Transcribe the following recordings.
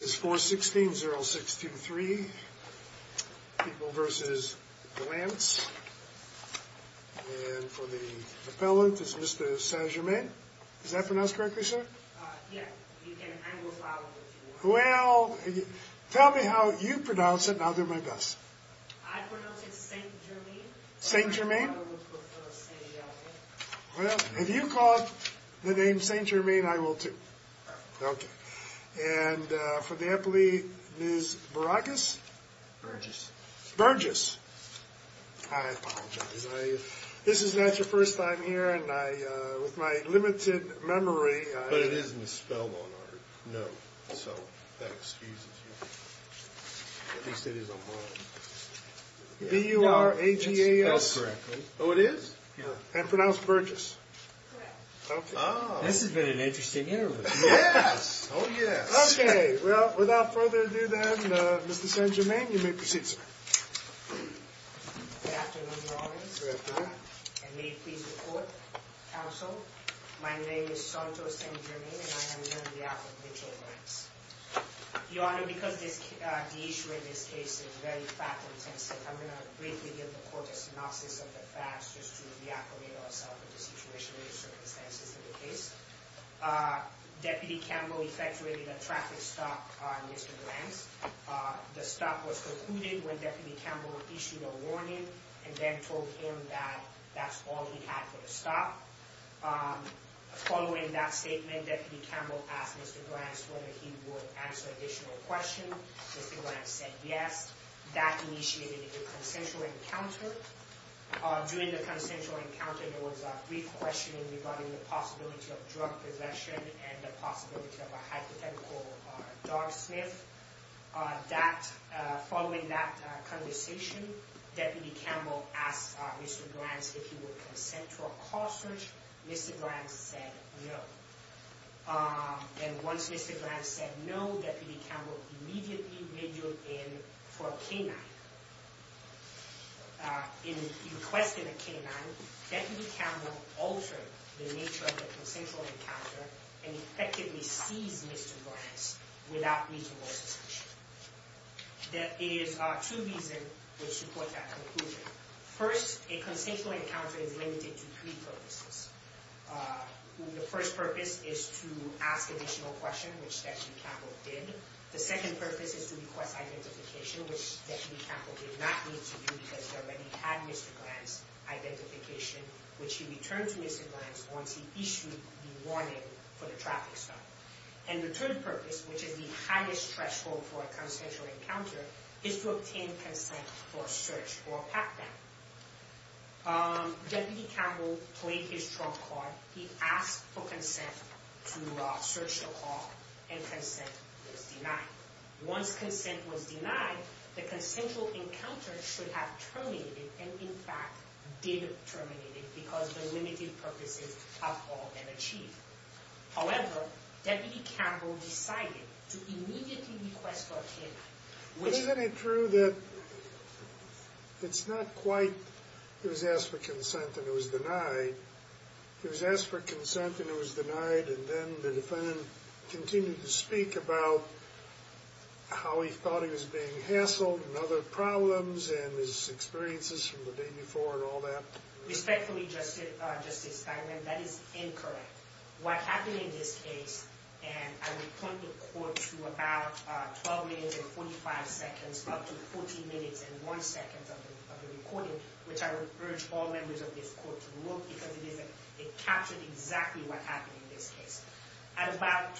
It's 416-0623. People v. Glantz. And for the appellant, it's Mr. St-Germain. Is that pronounced correctly, sir? Yeah. You can anglify it if you want. Well, tell me how you pronounce it, and I'll do my best. I pronounce it St-Germain. St-Germain? I would prefer St-Germain. Well, if you call it the name St-Germain, I will too. Okay. And for the appellee, Ms. Baragas? Burgess. Burgess. I apologize. This is not your first time here, and I, with my limited memory... But it isn't spelled on our note, so that excuses you. At least it is on mine. B-U-R-A-G-A-S? No, it's spelled correctly. Oh, it is? Yeah. And pronounced Burgess? Correct. Oh. This has been an interesting interview. Yes! Oh, yes. Okay. Well, without further ado then, Mr. St-Germain, you may proceed, sir. Good afternoon, Your Honor. Good afternoon. And may it please the Court, Counsel, my name is Santo St-Germain, and I am here on behalf of Mitchell Glantz. Your Honor, because the issue in this case is very fact-intensive, I'm going to briefly give the Court a synopsis of the facts, just to reacclimate ourselves to the situation and circumstances of the case. Deputy Campbell effectuated a traffic stop on Mr. Glantz. The stop was concluded when Deputy Campbell issued a warning, and then told him that that's all he had for the stop. Following that statement, Deputy Campbell asked Mr. Glantz whether he would answer additional questions. Mr. Glantz said yes. That initiated a consensual encounter. During the consensual encounter, there was a brief questioning regarding the possibility of drug possession and the possibility of a hypothetical dog sniff. That, following that conversation, Deputy Campbell asked Mr. Glantz if he would consent to a call search. Mr. Glantz said no. And once Mr. Glantz said no, Deputy Campbell immediately radioed in for a canine. In requesting a canine, Deputy Campbell altered the nature of the consensual encounter and effectively seized Mr. Glantz without reasonable suspicion. There are two reasons which support that conclusion. First, a consensual encounter is limited to three purposes. The first purpose is to ask additional questions, which Deputy Campbell did. The second purpose is to request identification, which Deputy Campbell did not need to do because he already had Mr. Glantz's identification, which he returned to Mr. Glantz once he issued the warning for the traffic stop. And the third purpose, which is the highest threshold for a consensual encounter, is to obtain consent for a search or a pat-down. Deputy Campbell played his trump card. He asked for consent to search the call, and consent was denied. Once consent was denied, the consensual encounter should have terminated and, in fact, didn't terminate it because the limited purposes have all been achieved. However, Deputy Campbell decided to immediately request for a canine. Isn't it true that it's not quite, he was asked for consent and it was denied. He was asked for consent and it was denied, and then the defendant continued to speak about how he thought he was being hassled and other problems and his experiences from the day before and all that? Respectfully, Justice Steinman, that is incorrect. What happened in this case, and I would point the court to about 12 minutes and 45 seconds, up to 14 minutes and one second of the recording, which I would urge all members of this court to look because it captured exactly what happened in this case. At about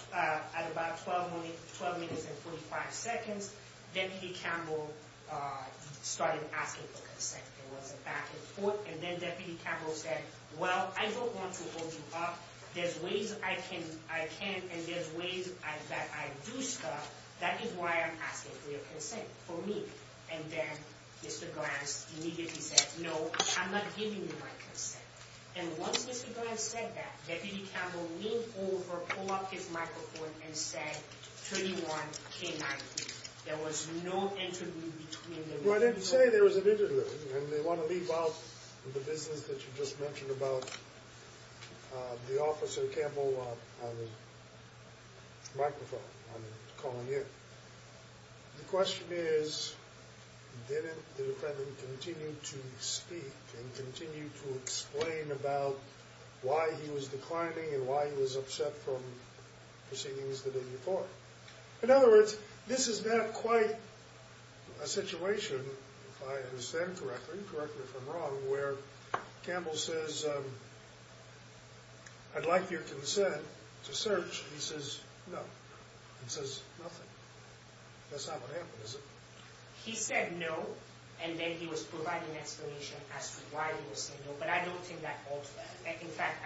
12 minutes and 45 seconds, Deputy Campbell started asking for consent. There was a back and forth, and then Deputy Campbell said, well, I don't want to open up. There's ways I can and there's ways that I do stuff. That is why I'm asking for your consent, for me. And then Mr. Grants immediately said, no, I'm not giving you my consent. And once Mr. Grants said that, Deputy Campbell leaned over, pulled up his microphone and said, 31 K-19. There was no interlude between them. Well, I didn't say there was an interlude, and they want to leave out the business that you just mentioned about the officer Campbell on the microphone, on the calling ear. The defendant continued to speak and continued to explain about why he was declining and why he was upset from proceedings that had been before. In other words, this is not quite a situation, if I understand correctly, correct me if I'm wrong, where Campbell says, I'd like your consent to search. He says, no. He says nothing. That's not what happened, is it? He said no, and then he was providing an explanation as to why he was saying no, but I don't think that alters that. In fact,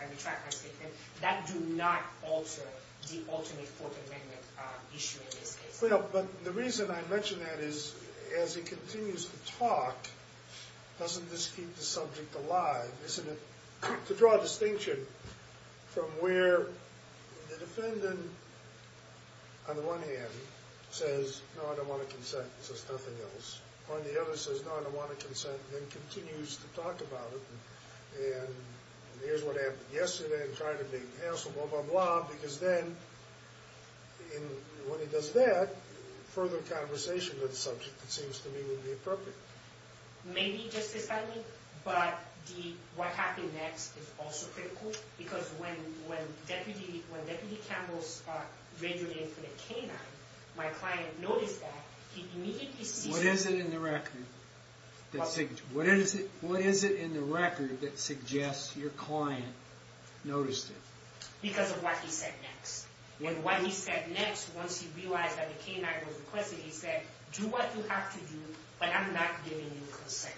I retract my statement. That does not alter the ultimate court amendment issue in this case. Well, but the reason I mention that is, as he continues to talk, doesn't this keep the from where the defendant, on the one hand, says, no, I don't want a consent, and says nothing else. On the other, says, no, I don't want a consent, and continues to talk about it, and here's what happened yesterday, and tried to make the hassle, blah, blah, blah, because then, when he does that, further conversation of the subject, it seems to me, would be appropriate. Maybe, justifiably, but the what happened next is also critical, because when Deputy Campbell's radioed in for the canine, my client noticed that, he immediately sees What is it in the record that suggests your client noticed it? Because of what he said next, and what he said next, once he realized that the canine was requesting, he said, do what you have to do, but I'm not giving you consent.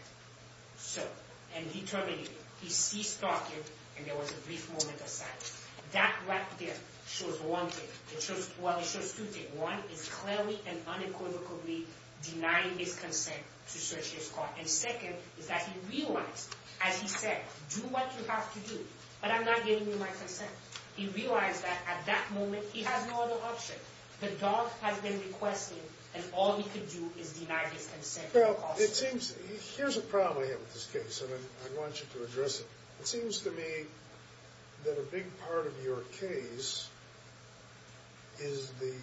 So, and he terminated it. He ceased talking, and there was a brief moment of silence. That right there shows one thing. Well, it shows two things. One is clearly and unequivocally denying his consent to search his car, and second is that he realized, as he said, do what you have to do, but I'm not giving you my consent. He realized that, at that moment, he had no other option. The dog has been requested, and all he could do is deny his consent. Well, it seems, here's a problem I have with this case, and I want you to address it. It seems to me that a big part of your case is the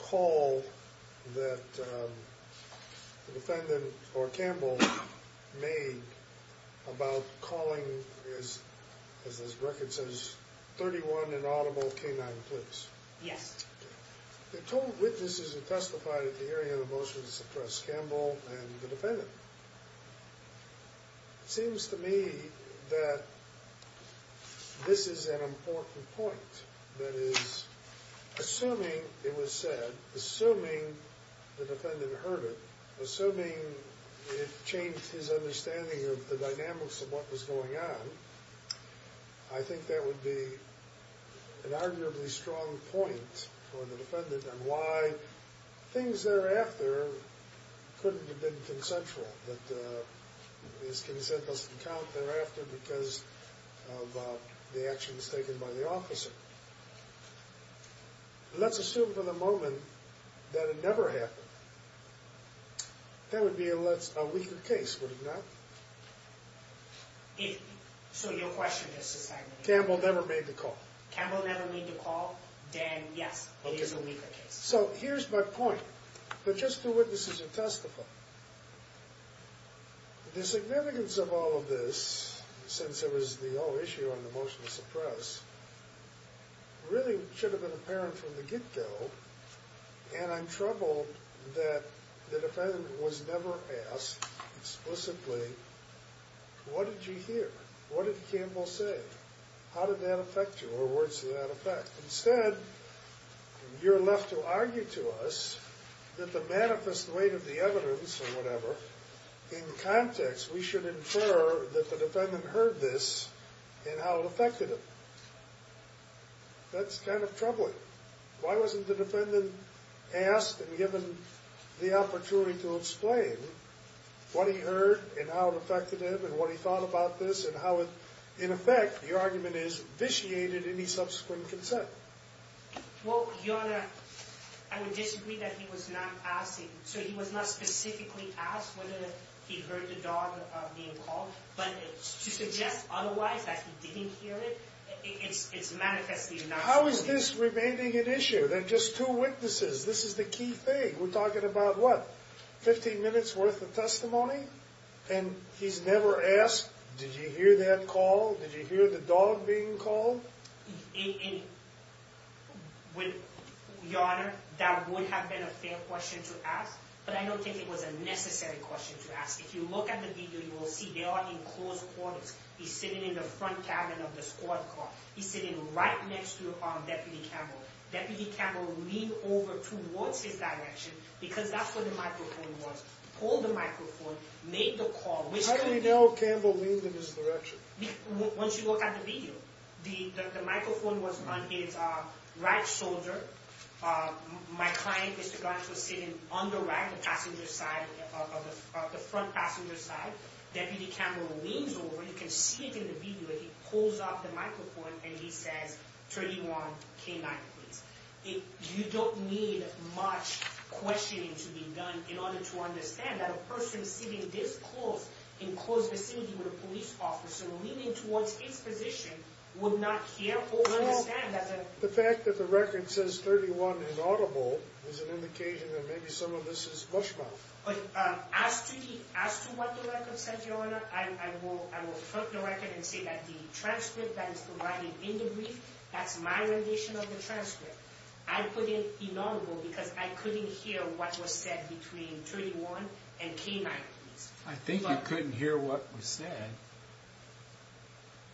call that the defendant, or Campbell, made about calling, as this record says, 31 inaudible canine police. Yes. They told witnesses who testified at the hearing of the motions to suppress Campbell and the defendant. It seems to me that this is an important point, that is, assuming it was said, assuming the defendant changed his understanding of the dynamics of what was going on, I think that would be an arguably strong point for the defendant on why things thereafter couldn't have been consensual, that his consent doesn't count thereafter because of the actions taken by the officer. Let's assume for the moment that it never happened. That would be a weaker case, wouldn't it? So your question is... Campbell never made the call. Campbell never made the call, then yes, it is a weaker case. So here's my point, but just to witnesses who testified. The significance of all of this, since it was the whole issue on the motion to suppress, really should have been apparent from the get-go, and I'm troubled that the defendant was never asked explicitly, what did you hear? What did Campbell say? How did that affect you, or where does that affect? Instead, you're left to argue to us that the manifest weight of the evidence or whatever, in context, we should infer that the defendant heard this and how it affected him. That's kind of troubling. Why wasn't the defendant asked and given the opportunity to explain what he heard and how it affected him and what he thought about this and how it, in effect, the argument is, vitiated any subsequent consent? Well, Your Honor, I would disagree that he was not asked. So he was not specifically asked whether he heard the dog being called, but to suggest otherwise that he didn't hear it, it's manifestly not true. How is this remaining an issue? There are just two witnesses. This is the key thing. We're talking about, what, 15 minutes worth of testimony? And he's never asked, did you hear that call? Did you hear the dog being called? Your Honor, that would have been a fair question to ask, but I don't think it was a necessary question to ask. If you look at the video, you will see they are in close front cabin of the squad car. He's sitting right next to Deputy Campbell. Deputy Campbell leaned over towards his direction because that's where the microphone was. Pulled the microphone, made the call. How do we know Campbell leaned in his direction? Once you look at the video, the microphone was on his right shoulder. My client, Mr. Gantz, was sitting on the right, the front passenger side. Deputy Campbell leans over. You can see it in the video. He pulls up the microphone and he says, 31 K-9, please. You don't need much questioning to be done in order to understand that a person sitting this close, in close vicinity with a police officer, leaning towards his position, would not care or understand that. The fact that the record says 31 inaudible is an indication that maybe some of this is from the record and say that the transcript that is provided in the brief, that's my rendition of the transcript. I put in inaudible because I couldn't hear what was said between 31 and K-9, please. I think you couldn't hear what was said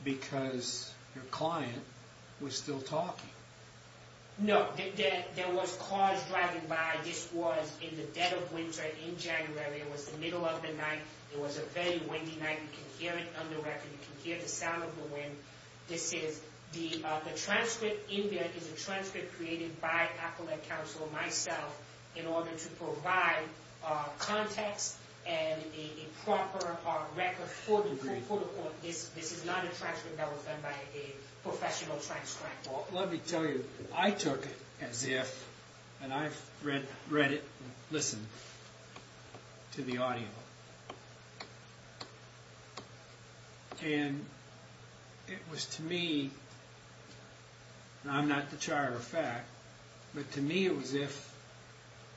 because your client was still talking. No, there was cars driving by. This was in the dead of winter in January. It was the record. You can hear the sound of the wind. The transcript in there is a transcript created by Appellate Counsel, myself, in order to provide context and a proper record for the court. This is not a transcript that was done by a professional transcriber. Let me tell you, I took it as if, and I've read it and listened to the audio, and it was to me, and I'm not the char of fact, but to me it was as if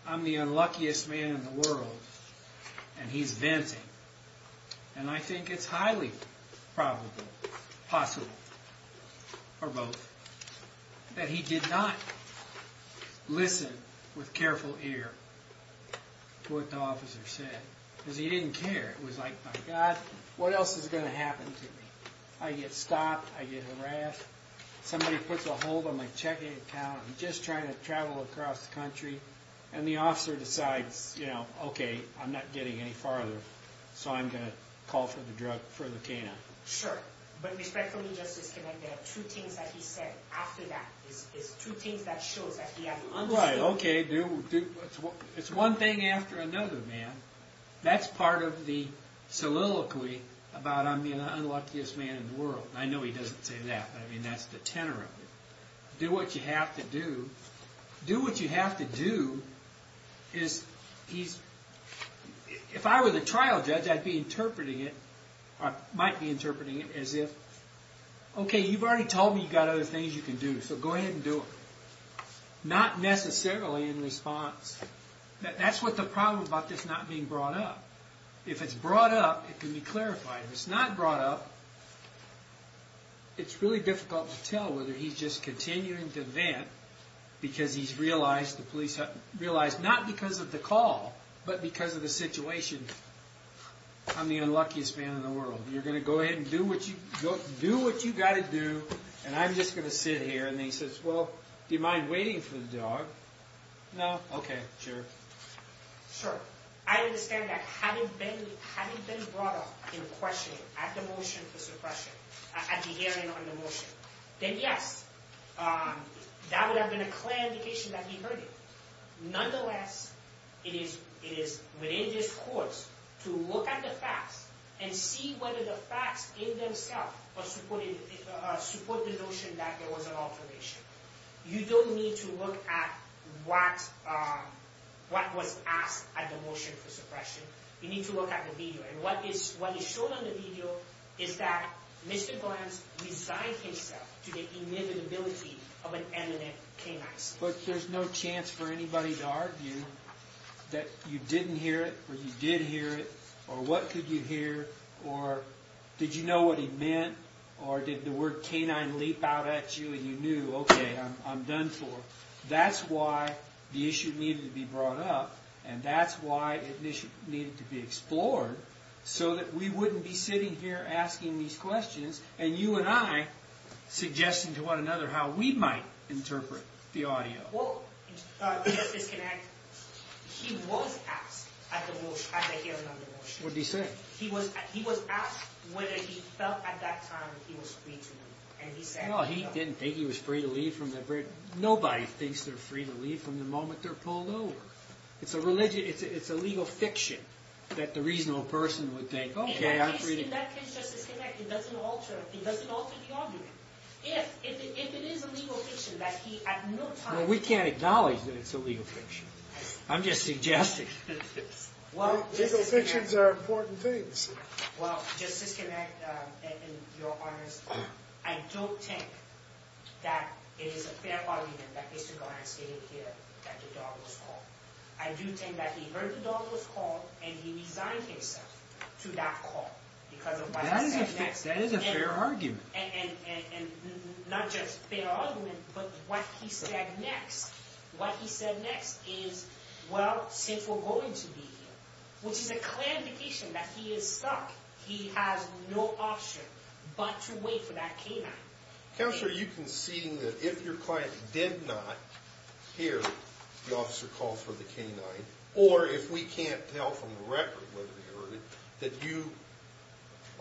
I'm the unluckiest man in the world and he's venting. I think it's highly probable, possible, or both, that he did not listen with careful ear to what the officer said because he didn't care. It was like, my God, what else is going to happen to me? I get stopped. I get harassed. Somebody puts a hold on my checking account. I'm just trying to travel across the country, and the check account, okay, I'm not getting any farther, so I'm going to call for the drug, for the canine. Sure, but respectfully, Justice Kennedy, there are two things that he said after that. There's two things that shows that he had no choice. Right, okay. It's one thing after another, man. That's part of the soliloquy about I'm the unluckiest man in the world. I know he doesn't say that, but that's the tenor of it. Do what you have to do. Do what you have to do. If I were the trial judge, I'd be interpreting it, or might be interpreting it as if, okay, you've already told me you've got other things you can do, so go ahead and do it. Not necessarily in response. That's what the problem about this not being brought up. If it's brought up, it can be clarified. If it's not brought up, it's really difficult to tell whether he's just continuing to vent because he's realized, not because of the call, but because of the situation. I'm the unluckiest man in the world. You're going to go ahead and do what you've got to do, and I'm just going to sit here, and he says, well, do you mind waiting for the dog? No? Okay, sure. I understand that having been brought up in questioning at the motion for suppression, at the hearing on the motion, then yes, that would have been a clear indication that he heard it. Nonetheless, it is within this court to look at the facts and see whether the facts in themselves support the notion that there was an alteration. You don't need to look at what was asked at the motion for suppression. You need to look at the video, and what is shown on the video is that Mr. Glantz resigned himself to the inevitability of an eminent canine. But there's no chance for anybody to argue that you didn't hear it, or you did hear it, or what could you hear, or did you know what he meant, or did the word canine leap out at you, and you knew, okay, I'm done for. That's why the issue needed to be brought up, and that's why it needed to be explored, so that we wouldn't be sitting here asking these questions, and you and I suggesting to one another how we might interpret the audio. He was asked at the hearing on the motion. What did he say? He was asked whether he felt at that time he was free to leave. No, he didn't think he was free to leave. Nobody thinks they're free to leave from the moment they're pulled over. It's a legal fiction that the reasonable person would think, okay, I'm free to leave. It doesn't alter the argument. If it is a legal fiction that he at no time... Well, we can't acknowledge that it's a legal fiction. I'm just suggesting. Legal fictions are important things. Well, Justice Kinnick, in your honors, I don't think that it is a fair argument that Mr. Glenn stated here that the dog was called. I do think that he heard the dog was called, and he resigned himself to that call because of what he said next. That is a fair argument. And not just fair argument, but what he said next. What he said next is, well, since we're going to be here, which is a clear indication that he is stuck. He has no option but to wait for that canine. Counselor, are you conceding that if your client did not hear the officer call for the canine on the record, whether he heard it, that you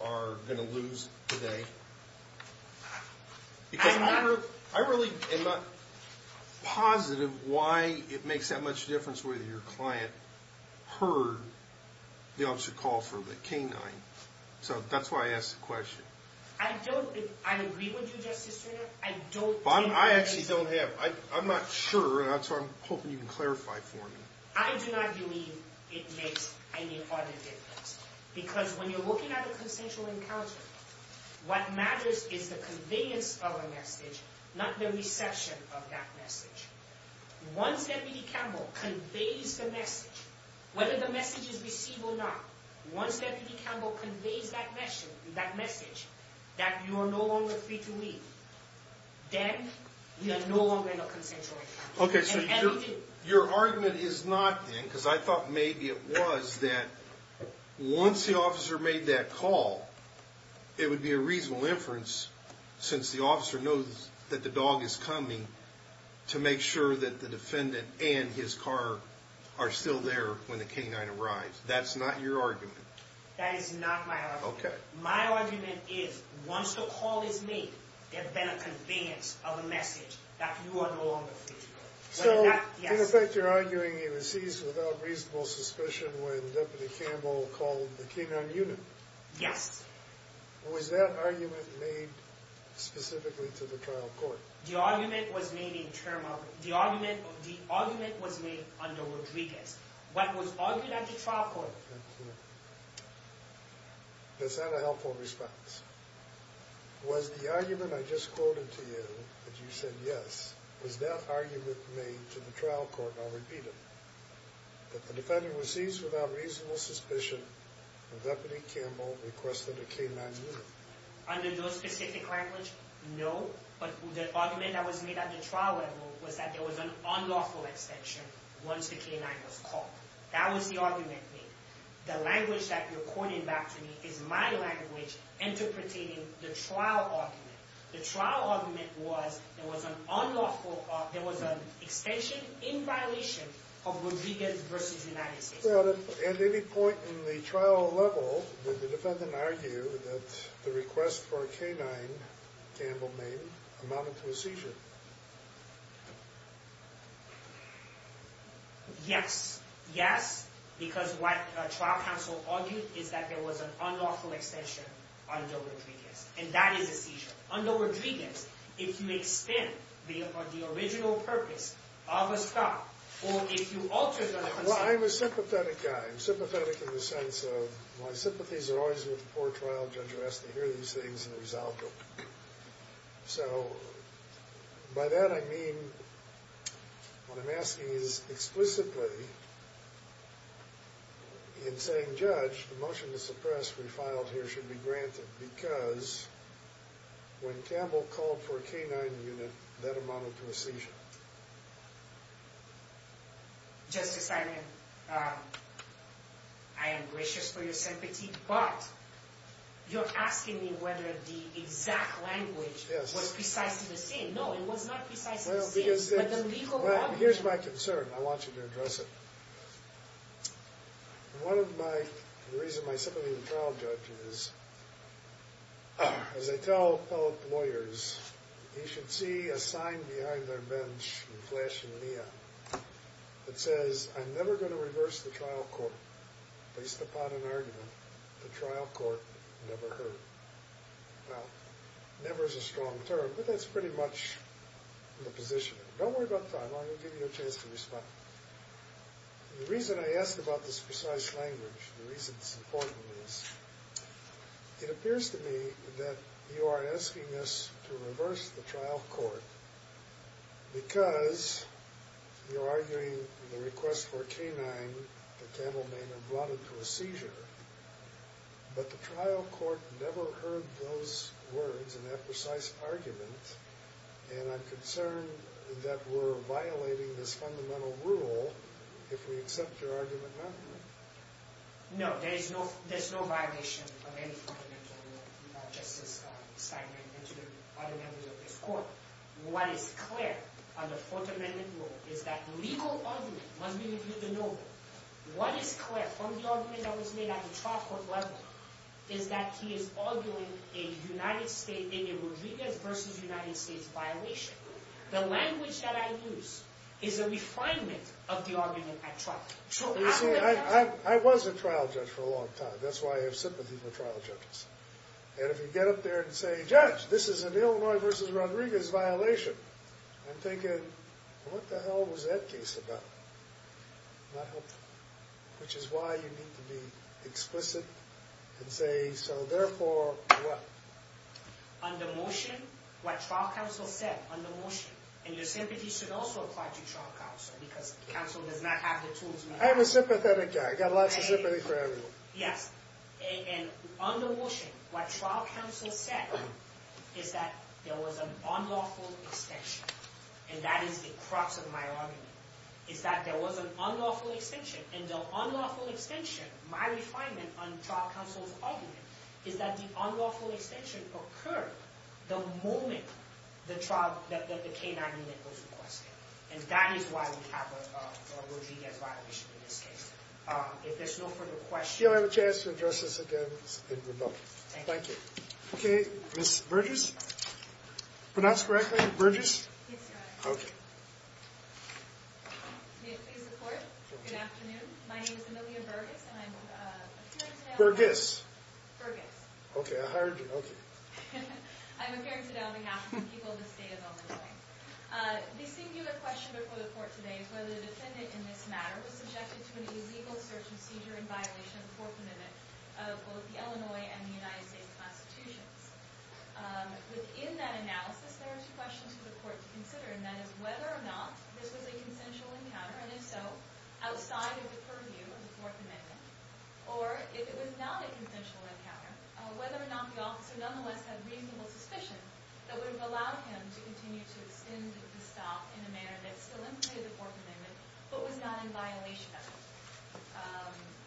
are going to lose today? Because I really am not positive why it makes that much difference whether your client heard the officer call for the canine. So that's why I asked the question. I don't... I agree with you, Justice Kinnick. I don't... I actually don't have... I'm not sure, so I'm hoping you can clarify for me. I do not believe it makes any other difference. Because when you're looking at a consensual encounter, what matters is the conveyance of a message, not the reception of that message. Once Deputy Campbell conveys the message, whether the message is received or not, once Deputy Campbell conveys that message, that you are no longer free to leave, then you are no longer in a consensual encounter. Okay, so your argument is not then, because I thought maybe it was, that once the officer made that call, it would be a reasonable inference, since the officer knows that the dog is coming, to make sure that the defendant and his car are still there when the canine arrives. That's not your argument. That is not my argument. Okay. My argument is, once the call is made, there better conveyance of a message that you are no longer free to go. So, in effect, you're arguing he was seized without reasonable suspicion when Deputy Campbell called the canine unit. Yes. Was that argument made specifically to the trial court? The argument was made in term of... The argument was made under Rodriguez. What was argued at the trial court... Thank you. Does that have a helpful response? Was the argument I just quoted to you, that you said yes, was that argument made to the trial court? I'll repeat it. That the defendant was seized without reasonable suspicion when Deputy Campbell requested a canine unit. Under no specific language, no, but the argument that was made at the trial level was that there was an unlawful extension once the canine was caught. That was the argument made. The language that you're quoting back to me is my language interpreting the trial argument. The trial argument was there was an extension in violation of Rodriguez v. United States. Well, at any point in the trial level, did the defendant argue that the request for a canine Campbell made amounted to a seizure? Yes. Yes, because what trial counsel argued is that there was an unlawful extension under Rodriguez, and that is a seizure. Under Rodriguez, if you extend the original purpose of a trial, or if you alter the... Well, I'm a sympathetic guy. I'm sympathetic in the sense of my sympathies are always with the poor trial judge who has to hear these things and resolve them. So, by that I mean what I'm asking is explicitly in saying, Judge, the motion to suppress we filed here should be granted because when Campbell called for a canine unit, that amounted to a seizure. Justice Steinman, I am gracious for your sympathy, but you're asking me whether the exact language was precise to the scene. No, it was not precise to the scene. Well, here's my concern. I want you to address it. One of my, the reason my sympathy with Lynch and Flash and Nia, it says, I'm never going to reverse the trial court based upon an argument the trial court never heard. Well, never is a strong term, but that's pretty much the position. Don't worry about time. I'm going to give you a chance to respond. The reason I asked about this precise language, the reason it's important is, it appears to me that you are asking us to reverse the trial court because you're arguing the request for a canine that Campbell may have brought into a seizure, but the trial court never heard those words and that precise argument, and I'm concerned that we're violating this fundamental rule if we accept your argument now. No, there is no, there's no violation of any fundamental rule of Justice Steinman and to the other members of this court. What is clear on the Fourth Amendment rule is that legal argument must be reviewed to know what is clear from the argument that was made at the trial court level is that he is arguing a United States, a Rodriguez versus United States violation. The language that I use is a refinement of the argument at trial. You see, I was a trial judge for a long time. That's why I have sympathy for trial judges, and if you get up there and say, Judge, this is an Illinois versus Rodriguez violation, I'm thinking, what the hell was that case about? Not helpful, which is why you need to be explicit and say, so therefore, what? Under motion, what trial counsel said, under motion, and your sympathy should also apply to trial counsel because counsel does not have the tools. I'm a sympathetic guy. I've got lots of sympathy for everyone. Yes, and under motion, what trial counsel said is that there was an unlawful extension, and that is the crux of my argument, is that there was an unlawful extension, and the unlawful extension, my refinement on trial counsel's argument, is that the unlawful extension occurred the moment the trial, that the K-9 unit was requested, and that is why we have a Rodriguez violation in this case. If there's no further questions. Do you have a chance to address this again remotely? Thank you. Okay, Ms. Burgess? Pronounce correctly, Burgess? Yes, Your Honor. Okay. May it please the Court? Good afternoon. My name is Amelia Burgess, and I'm appearing today on behalf of... Burgess. Burgess. Okay, I heard you. Okay. I'm appearing today on behalf of the people of the state of Illinois. The singular question before the Court today is whether the defendant in this matter was subjected to an illegal search and seizure in violation of the Fourth Amendment of both the Illinois and the United States Constitutions. Within that analysis, there are two questions for the Court to consider, and that is whether or not this was a consensual encounter, and if so, outside of the purview of the Fourth Amendment, whether or not the officer nonetheless had reasonable suspicion that would have allowed him to continue to extend the stop in a manner that still implicated the Fourth Amendment but was not in violation of it.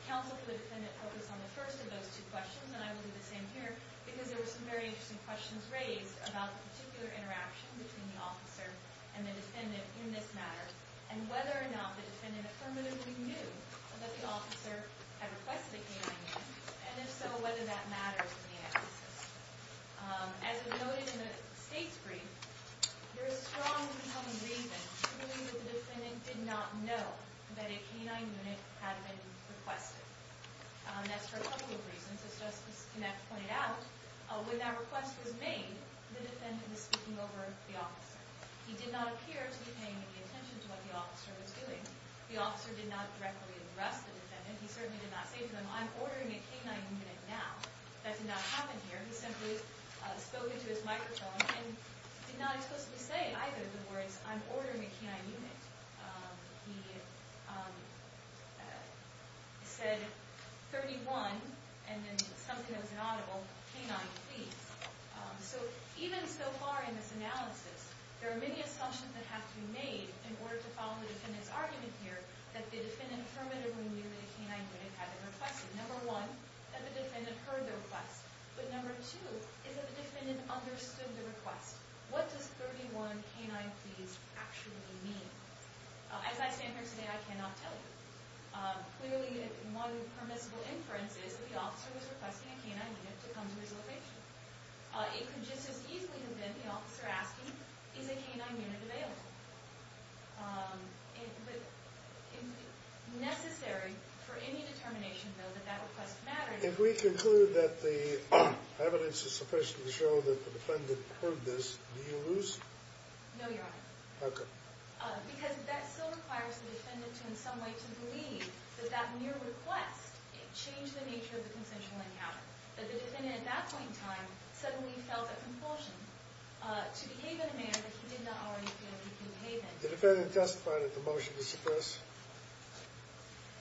Counsel for the defendant focused on the first of those two questions, and I will do the same here, because there were some very interesting questions raised about the particular interaction between the officer and the defendant in this matter, and whether or not the defendant affirmatively knew that the officer had requested a K-9 unit, and if so, whether that matters in the analysis. As was noted in the State's brief, there is strong incoming reason to believe that the defendant did not know that a K-9 unit had been requested. That's for a couple of reasons, as Justice Knapp pointed out. When that request was made, the defendant was speaking over the officer. He did not appear to be paying any attention to what the officer was doing. The officer did not directly arrest the defendant. He certainly did not say to them, I'm ordering a K-9 unit now. That did not happen here. He simply spoke into his microphone and did not explicitly say either of the words, I'm ordering a K-9 unit. He said, 31, and then something that was inaudible, K-9, please. So even so far in this analysis, there are many assumptions that have to be made in order to follow the defendant's argument here that the defendant permanently knew that a K-9 unit had been requested. Number one, that the defendant heard the request, but number two, is that the defendant understood the request. What does 31, K-9, please, actually mean? As I stand here today, I cannot tell you. Clearly, one permissible inference is that the officer was requesting a K-9 unit to come to his location. It could just as easily have been the officer asking, is a K-9 unit available? Necessary for any determination, though, that that request mattered. If we conclude that the evidence is sufficient to show that the defendant heard this, do you lose? No, Your Honor. How come? Because that still requires the defendant to in some way to believe that that mere request changed the nature of the consensual encounter. That the defendant at that point in time suddenly felt a compulsion to behave in a manner that he did not already feel he could behave in. The defendant testified at the motion to suppress?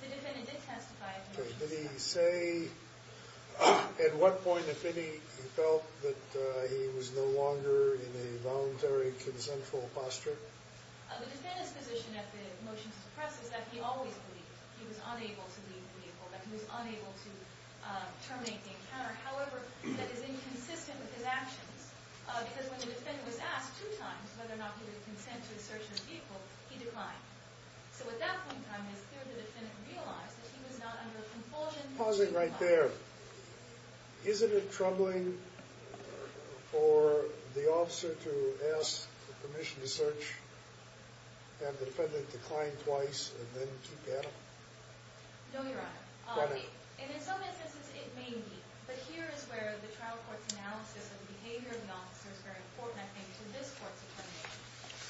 The defendant did testify at the motion to suppress. Did he say at what point, if any, he felt that he was no longer in a voluntary consensual posture? The defendant's position at the motion to suppress is that he always believed. He was unable to leave the vehicle. That he was unable to terminate the encounter. However, that is inconsistent with his actions. Because when the defendant was asked two times whether or not he would consent to a search of his vehicle, he declined. So at that point in time, it was clear the defendant realized that he was not under a compulsion to decline. Pausing right there. Isn't it troubling for the officer to ask for permission to search and the defendant declined twice and then to battle? No, Your Honor. And in some instances, it may be. But here is where the trial court's analysis of the behavior of the officer is very important, I think, to this court's determination.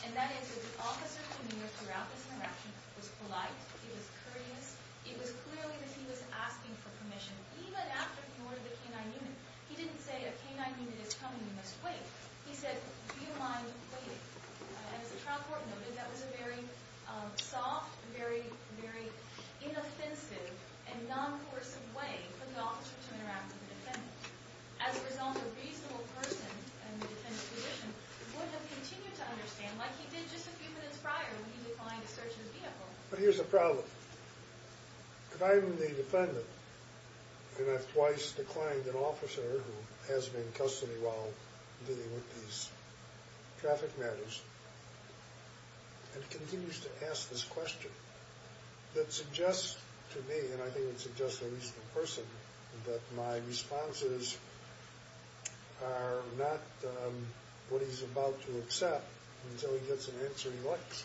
And that is that the officer, to me, throughout this interaction, was polite. He was courteous. It was clear that he was asking for permission. Even after he ordered the canine unit. He didn't say, a canine unit is coming. You must wait. He said, do you mind waiting? As the trial court noted, that was a very soft, very inoffensive and non-coercive way for the officer to interact with the defendant. As a result, a reasonable person in the defendant's position would have continued to understand like he did just a few minutes prior when he declined a search of his vehicle. But here's the problem. If I'm the defendant and I've twice declined an officer who has me in custody while dealing with these traffic matters, and he continues to ask this question, that suggests to me, and I think it suggests to a reasonable person, that my responses are not what he's about to accept until he gets an answer he likes.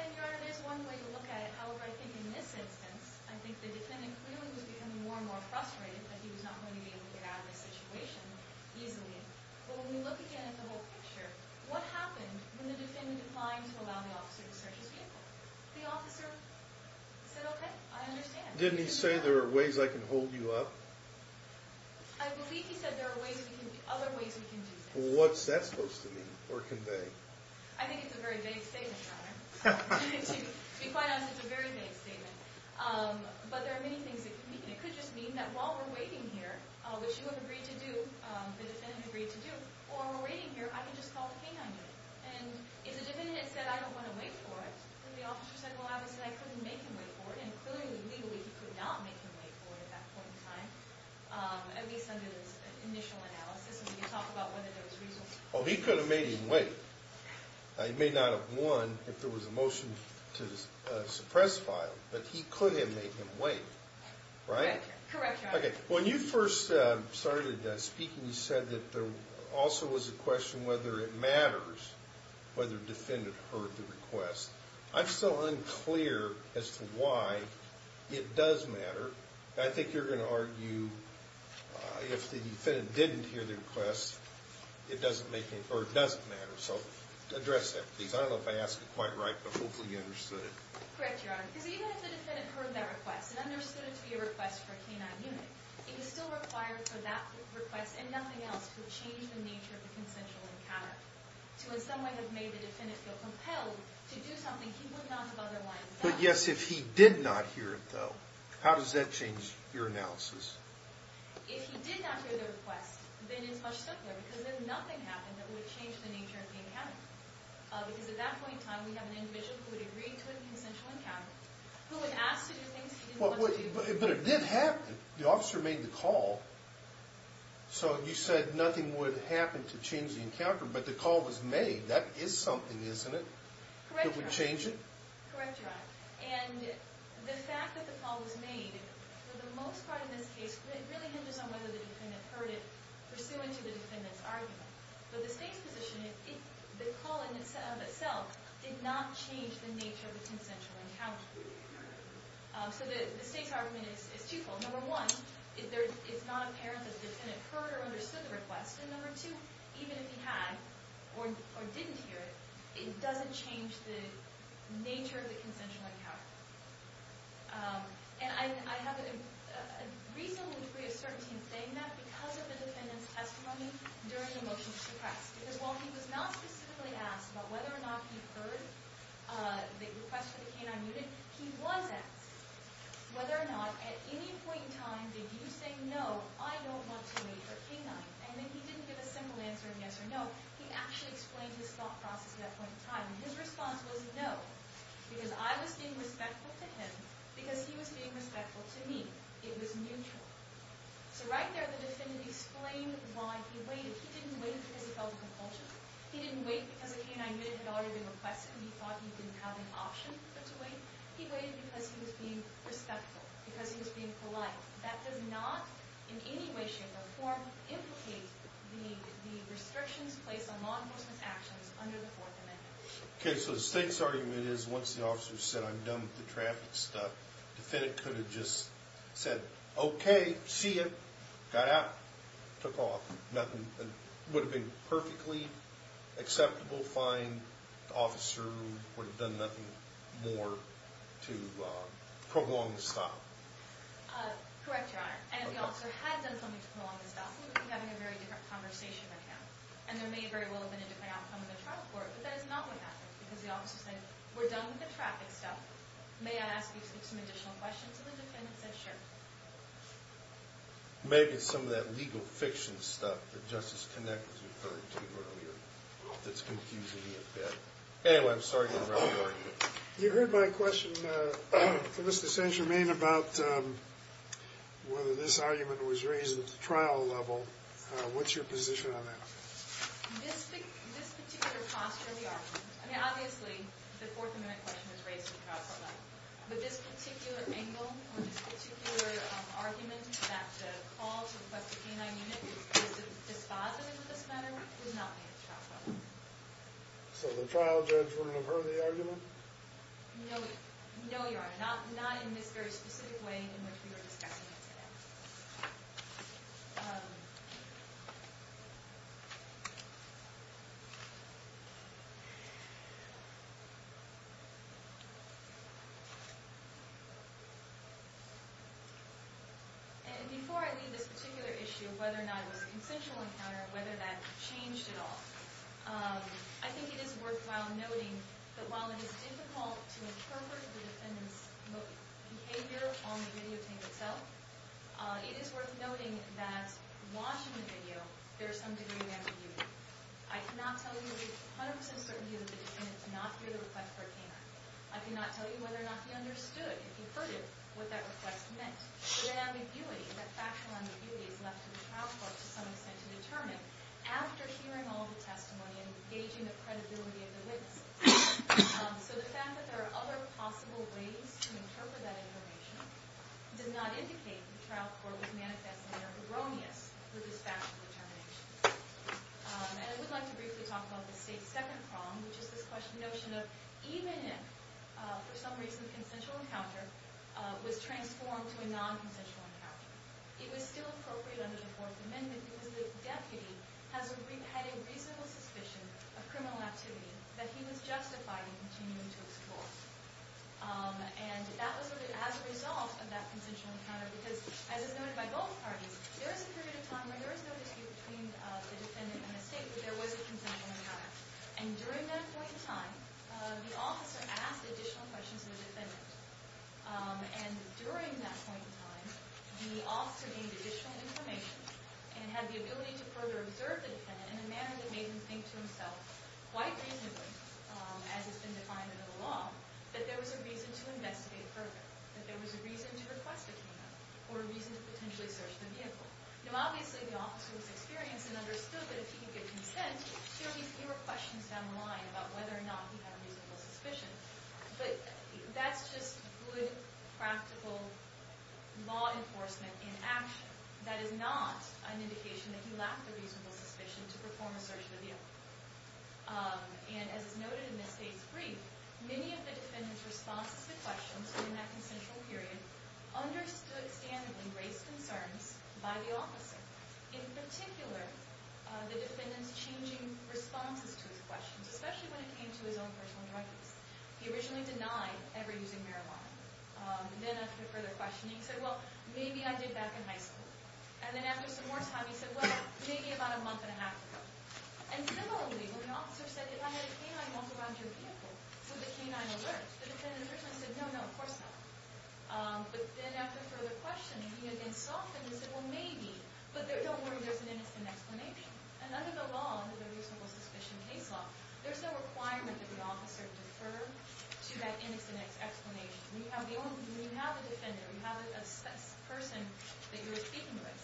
And, Your Honor, there's one way to look at it. However, I think in this instance, I think the defendant clearly was becoming more and more frustrated that he was not going to be able to get out of this situation easily. But when we look again at the whole picture, what happened when the defendant declined to allow the officer to search his vehicle? The officer said, okay, I understand. Didn't he say there are ways I can hold you up? I believe he said there are other ways we can do that. What's that supposed to mean or convey? I think it's a very vague statement, Your Honor. To be quite honest, it's a very vague statement. But there are many things that could mean. It could just mean that while we're waiting here, which you have agreed to do, the defendant agreed to do, while we're waiting here, I can just call the K-9 unit. And if the defendant had said, I don't want to wait for it, and the officer said, well, I would say I couldn't make him wait for it, and clearly, legally, he could not make him wait for it at that point in time, at least under this initial analysis, and we can talk about whether there was reason for that. Oh, he could have made him wait. He may not have won if there was a motion to suppress file, but he could have made him wait, right? Correct, Your Honor. Okay, when you first started speaking, you said that there also was a question whether it matters whether the defendant heard the request. I'm still unclear as to why it does matter. I think you're going to argue if the defendant didn't hear the request, it doesn't make sense. So address that, please. I don't know if I asked it quite right, but hopefully you understood it. Correct, Your Honor, because even if the defendant heard that request and understood it to be a request for a K-9 unit, it is still required for that request and nothing else to change the nature of the consensual encounter. To in some way have made the defendant feel compelled to do something he would not have otherwise done. But yes, if he did not hear it, though, how does that change your analysis? If he did not hear the request, then it's much simpler, because if nothing happened, it would change the nature of the encounter. Because at that point in time, we have an individual who would agree to a consensual encounter, who would ask to do things he didn't want to do. But if it did happen, the officer made the call, so you said nothing would happen to change the encounter, but the call was made. That is something, isn't it? Correct, Your Honor. That would change it? Correct, Your Honor. And the fact that the call was made, for the most part in this case, really hinges on whether the defendant heard it pursuant to the defendant's argument. But the state's position is the call in itself did not change the nature of the consensual encounter. So the state's argument is twofold. Number one, it's not apparent that the defendant heard or understood the request. And number two, even if he had or didn't hear it, it doesn't change the nature of the consensual encounter. And I have a reasonable degree of certainty in saying that because of the defendant's emotional distress. Because while he was not specifically asked about whether or not he heard the request for the K-9 unit, he was asked whether or not at any point in time did you say no, I don't want to wait for K-9. And then he didn't give a simple answer of yes or no. He actually explained his thought process at that point in time. And his response was no, because I was being respectful to him because he was being respectful to me. It was neutral. So right there, the defendant explained why he waited. He didn't wait because he felt a compulsion. He didn't wait because the K-9 unit had already been requested and he thought he didn't have an option but to wait. He waited because he was being respectful, because he was being polite. That does not in any way, shape, or form implicate the restrictions placed on law enforcement actions under the Fourth Amendment. Okay, so the state's argument is once the officer said I'm done with the traffic stuff, the defendant could have just said, okay, see ya, got out, took off, nothing. It would have been perfectly acceptable, fine. The officer would have done nothing more to prolong the stop. Correct, Your Honor. And if the officer had done something to prolong the stop, we would be having a very different conversation right now. And there may very well have been a different outcome of the trial court, but that is not what happened. Because the officer said, we're done with the traffic stuff. May I ask you some additional questions? And the defendant said, sure. Maybe some of that legal fiction stuff that Justice Connick was referring to earlier that's confusing me a bit. Anyway, I'm sorry to interrupt your argument. You heard my question to Mr. Saint-Germain about whether this argument was raised at the trial level. What's your position on that? This particular posture of the argument, I mean, obviously, the Fourth Amendment question was raised at the trial level. But this particular angle, or this particular argument that the call to request a canine unit is dispositive of this matter, would not be at the trial level. So the trial judge wouldn't have heard the argument? No, Your Honor. Not in this very specific way in which we were discussing it today. And before I leave this particular issue of whether or not it was a consensual encounter, whether that changed at all, I think it is worthwhile noting that while it is difficult to interpret the defendant's behavior on the video tape itself, it is worth noting that watching the video, there is some degree of ambiguity. I cannot tell you with 100 percent certainty that the defendant did not hear the request for a canine. I cannot tell you whether or not he understood, if he heard it, what that request meant. But that ambiguity, that factual ambiguity is left to the trial court to some extent to determine after hearing all the testimony and gauging the credibility of the witness. So the fact that there are other possible ways to interpret that information does not And I would like to briefly talk about the State's second problem, which is this notion of even if, for some reason, a consensual encounter was transformed to a non-consensual encounter, it was still appropriate under the Fourth Amendment because the deputy had a reasonable suspicion of criminal activity that he was justified in continuing to explore. And that was as a result of that consensual encounter because, as is noted by both parties, there was a period of time where there was no dispute between the defendant and the State, but there was a consensual encounter. And during that point in time, the officer asked additional questions of the defendant. And during that point in time, the officer gained additional information and had the ability to further observe the defendant in a manner that made him think to himself, quite reasonably, as has been defined under the law, that there was a reason to investigate Now, obviously, the officer was experienced and understood that if he could give consent, he would give fewer questions down the line about whether or not he had a reasonable suspicion. But that's just good, practical law enforcement in action. That is not an indication that he lacked a reasonable suspicion to perform a search of the vehicle. And as is noted in the State's brief, many of the defendant's responses to questions in that consensual period understood and raised concerns by the officer. In particular, the defendant's changing responses to his questions, especially when it came to his own personal drug use. He originally denied ever using marijuana. And then after further questioning, he said, well, maybe I did back in high school. And then after some more time, he said, well, maybe about a month and a half ago. And similarly, when the officer said, if I had a canine walk around your vehicle, would the canine alert? The defendant originally said, no, no, of course not. But then after further questioning, he again softened and said, well, maybe. But don't worry, there's an innocent explanation. And under the law, under the reasonable suspicion case law, there's no requirement that the officer defer to that innocent explanation. When you have a defender, when you have a person that you're speaking with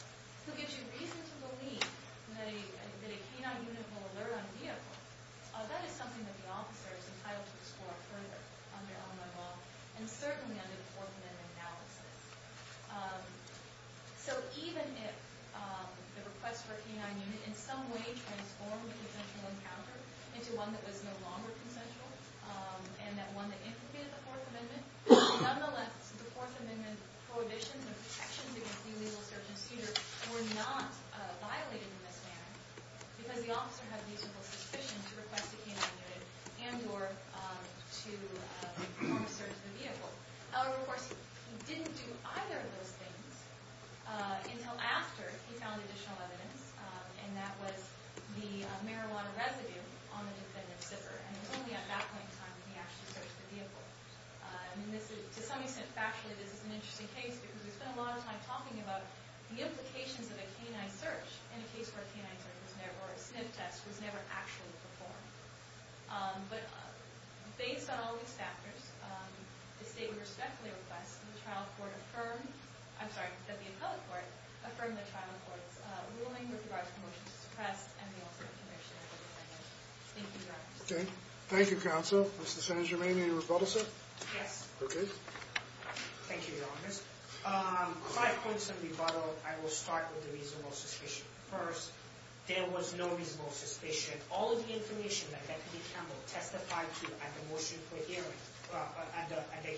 who gives you reason to believe that a canine unit will alert on a vehicle, that is something that the officer is entitled to explore further under Illinois law and certainly under the Fourth Amendment analysis. So even if the request for a canine unit in some way transformed a consensual encounter into one that was no longer consensual and that one that implemented the Fourth Amendment, nonetheless, the Fourth Amendment prohibitions and protections against illegal search and seizure were not violated in this manner because the officer had reasonable suspicion to request a canine unit and or to perform a search of the vehicle. However, of course, he didn't do either of those things until after he found additional evidence, and that was the marijuana residue on the defendant's zipper. And it was only at that point in time that he actually searched the vehicle. And to some extent, factually, this is an interesting case because we spent a lot of time talking about the implications of a canine search and a case where a canine search was never, or a sniff test was never actually performed. But based on all these factors, the state would respectfully request that the trial court affirm, I'm sorry, that the appellate court affirm the trial court's ruling with regards to the motion to suppress and the author of the conviction of the defendant. Thank you, Your Honor. Okay. Thank you, counsel. Mr. San Germain, any rebuttals yet? Yes. Okay. Thank you, Your Honor. Five points of rebuttal. I will start with the reasonable suspicion. First, there was no reasonable suspicion. All of the information that Bethany Campbell testified to at the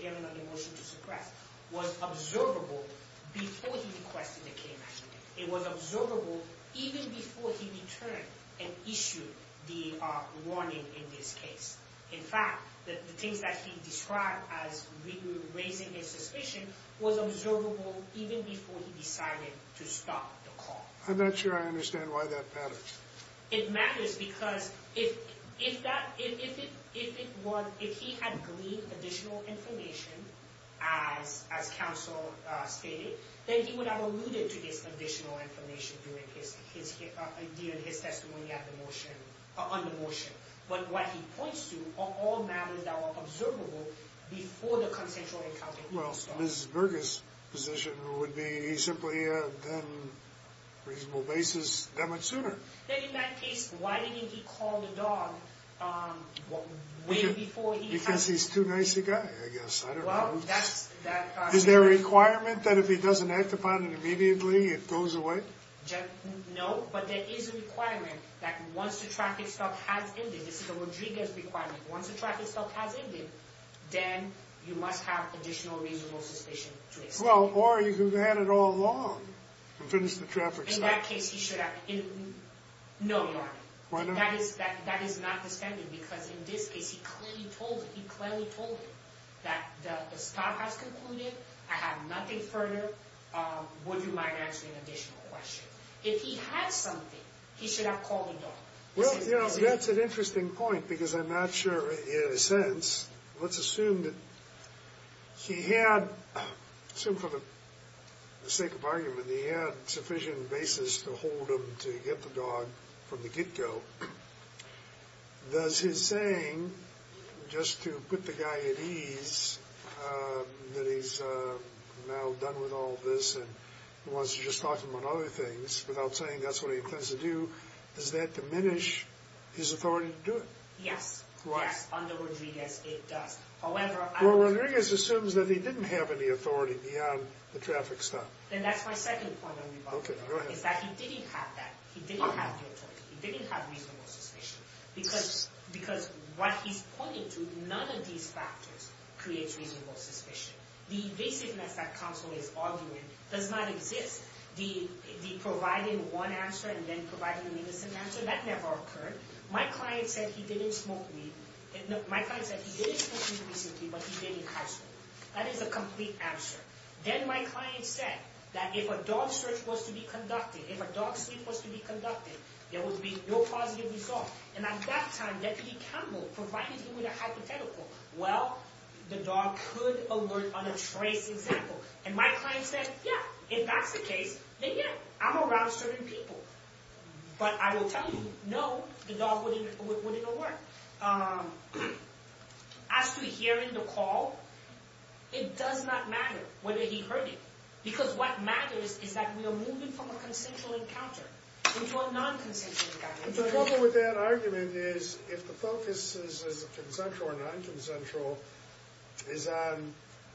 hearing on the motion to suppress was observable before he requested the canine search. It was observable even before he returned and issued the warning in this case. In fact, the things that he described as raising his suspicion was observable even before he decided to stop the call. I'm not sure I understand why that matters. It matters because if he had gleaned additional information, as counsel stated, then he would have alluded to this additional information during his testimony on the motion. But what he points to are all matters that were observable before the consensual encounter. Well, Mrs. Burgess' position would be he simply then raises the basis that much sooner. Then in that case, why didn't he call the dog way before he had? Because he's too nice a guy, I guess. I don't know. Well, that's... Is there a requirement that if he doesn't act upon it immediately, it goes away? No, but there is a requirement that once the traffic stop has ended, this is a Rodriguez requirement, once the traffic stop has ended, then you must have additional reasonable suspicion to explain. Well, or you can have it all along and finish the traffic stop. In that case, he should have... No, Your Honor. Why not? That is not the standard because in this case, he clearly told it. He clearly told it that the stop has concluded. I have nothing further. Would you mind answering an additional question? If he had something, he should have called the dog. Well, that's an interesting point because I'm not sure in a sense. Let's assume that he had, assume for the sake of argument, that he had sufficient basis to hold him to get the dog from the get-go. Does his saying, just to put the guy at ease that he's now done with all this and wants to just talk to him on other things without saying that's what he plans to do, does that diminish his authority to do it? Yes. Correct. Yes, under Rodriguez, it does. However... Well, Rodriguez assumes that he didn't have any authority beyond the traffic stop. Then that's my second point on rebuttal. Okay, go ahead. It's that he didn't have that. He didn't have the authority. He didn't have reasonable suspicion. Because what he's pointing to, none of these factors creates reasonable suspicion. The evasiveness that counsel is arguing does not exist. The providing one answer and then providing an innocent answer, that never occurred. My client said he didn't smoke weed. My client said he didn't smoke weed recently, but he did in high school. That is a complete answer. Then my client said that if a dog search was to be conducted, if a dog search was to be conducted, there would be no positive result. And at that time, Deputy Campbell, provided him with a hypothetical, well, the dog could alert on a trace example. And my client said, yeah, if that's the case, then yeah, I'm around certain people. But I will tell you, no, the dog wouldn't alert. As to hearing the call, it does not matter whether he heard it. Because what matters is that we are moving from a consensual encounter into a non-consensual encounter. The problem with that argument is if the focus is consensual or non-consensual, is on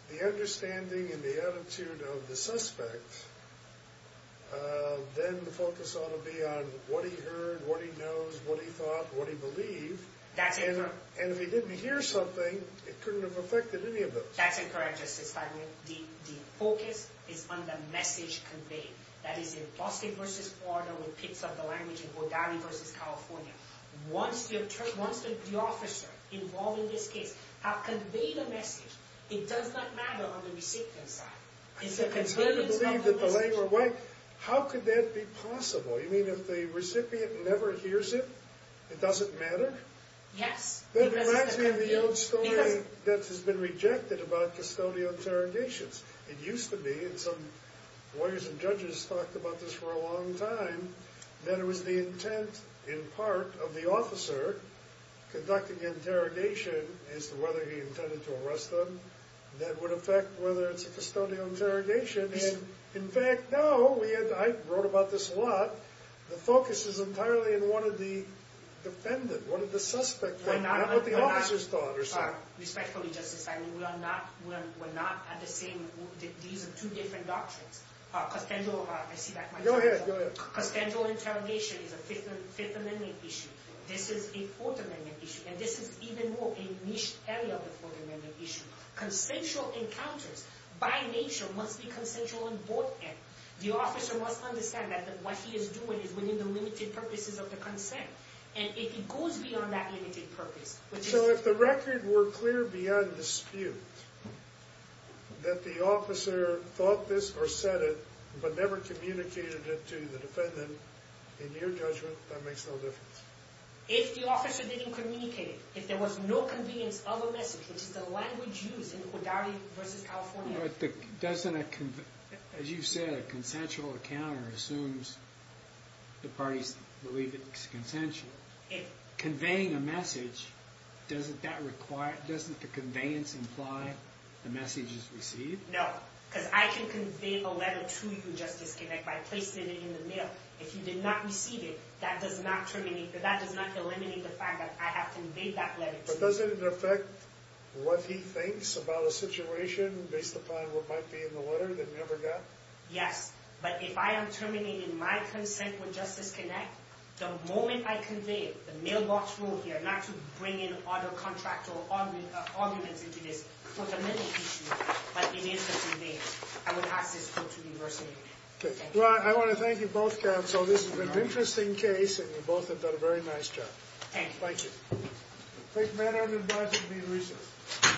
the understanding and the attitude of the suspect, then the focus ought to be on what he heard, what he knows, what he thought, what he believed. And if he didn't hear something, it couldn't have affected any of those. That's incorrect, Justice Feiglin. The focus is on the message conveyed. That is, in Boston v. Florida, with pits of the language in Bordali v. California, once the officer involved in this case has conveyed a message, it does not matter on the recipient's side. It's the concern of the message. How could that be possible? You mean if the recipient never hears it, it doesn't matter? Yes. That reminds me of the old story that has been rejected about custodial interrogations. It used to be, and some lawyers and judges talked about this for a long time, that it was the intent in part of the officer conducting the interrogation as to whether he intended to arrest them that would affect whether it's a custodial interrogation. In fact, now, I wrote about this a lot, the focus is entirely on one of the defendants, one of the suspects, not what the officers thought or said. Respectfully, Justice Feiglin, we're not at the same, these are two different doctrines. Custodial interrogation is a Fifth Amendment issue. This is a Fourth Amendment issue. And this is even more a niche area of the Fourth Amendment issue. Consensual encounters by nature must be consensual on both ends. The officer must understand that what he is doing is within the limited purposes of the consent, and it goes beyond that limited purpose. So if the record were clear beyond dispute that the officer thought this or said it but never communicated it to the defendant, in your judgment, that makes no difference? If the officer didn't communicate it, if there was no convenience of a message, which is the language used in Udari v. California. As you said, a consensual encounter assumes the parties believe it's consensual. Conveying a message, doesn't the conveyance imply the message is received? No, because I can convey a letter to you, Justice Kinnick, by placing it in the mail. If you did not receive it, that does not eliminate the fact that I have conveyed that letter to you. But does it affect what he thinks about a situation based upon what might be in the letter that you never got? Yes, but if I am terminating my consent with Justice Kinnick, the moment I convey the mailbox rule here, not to bring in other contractual arguments into this Fourth Amendment issue, but it is conveyed, I would ask this vote to be reversed immediately. Well, I want to thank you both, counsel. This has been an interesting case, and you both have done a very nice job. Thank you. Thank you. Thank you, Madam Attorney, for inviting me to be here this evening.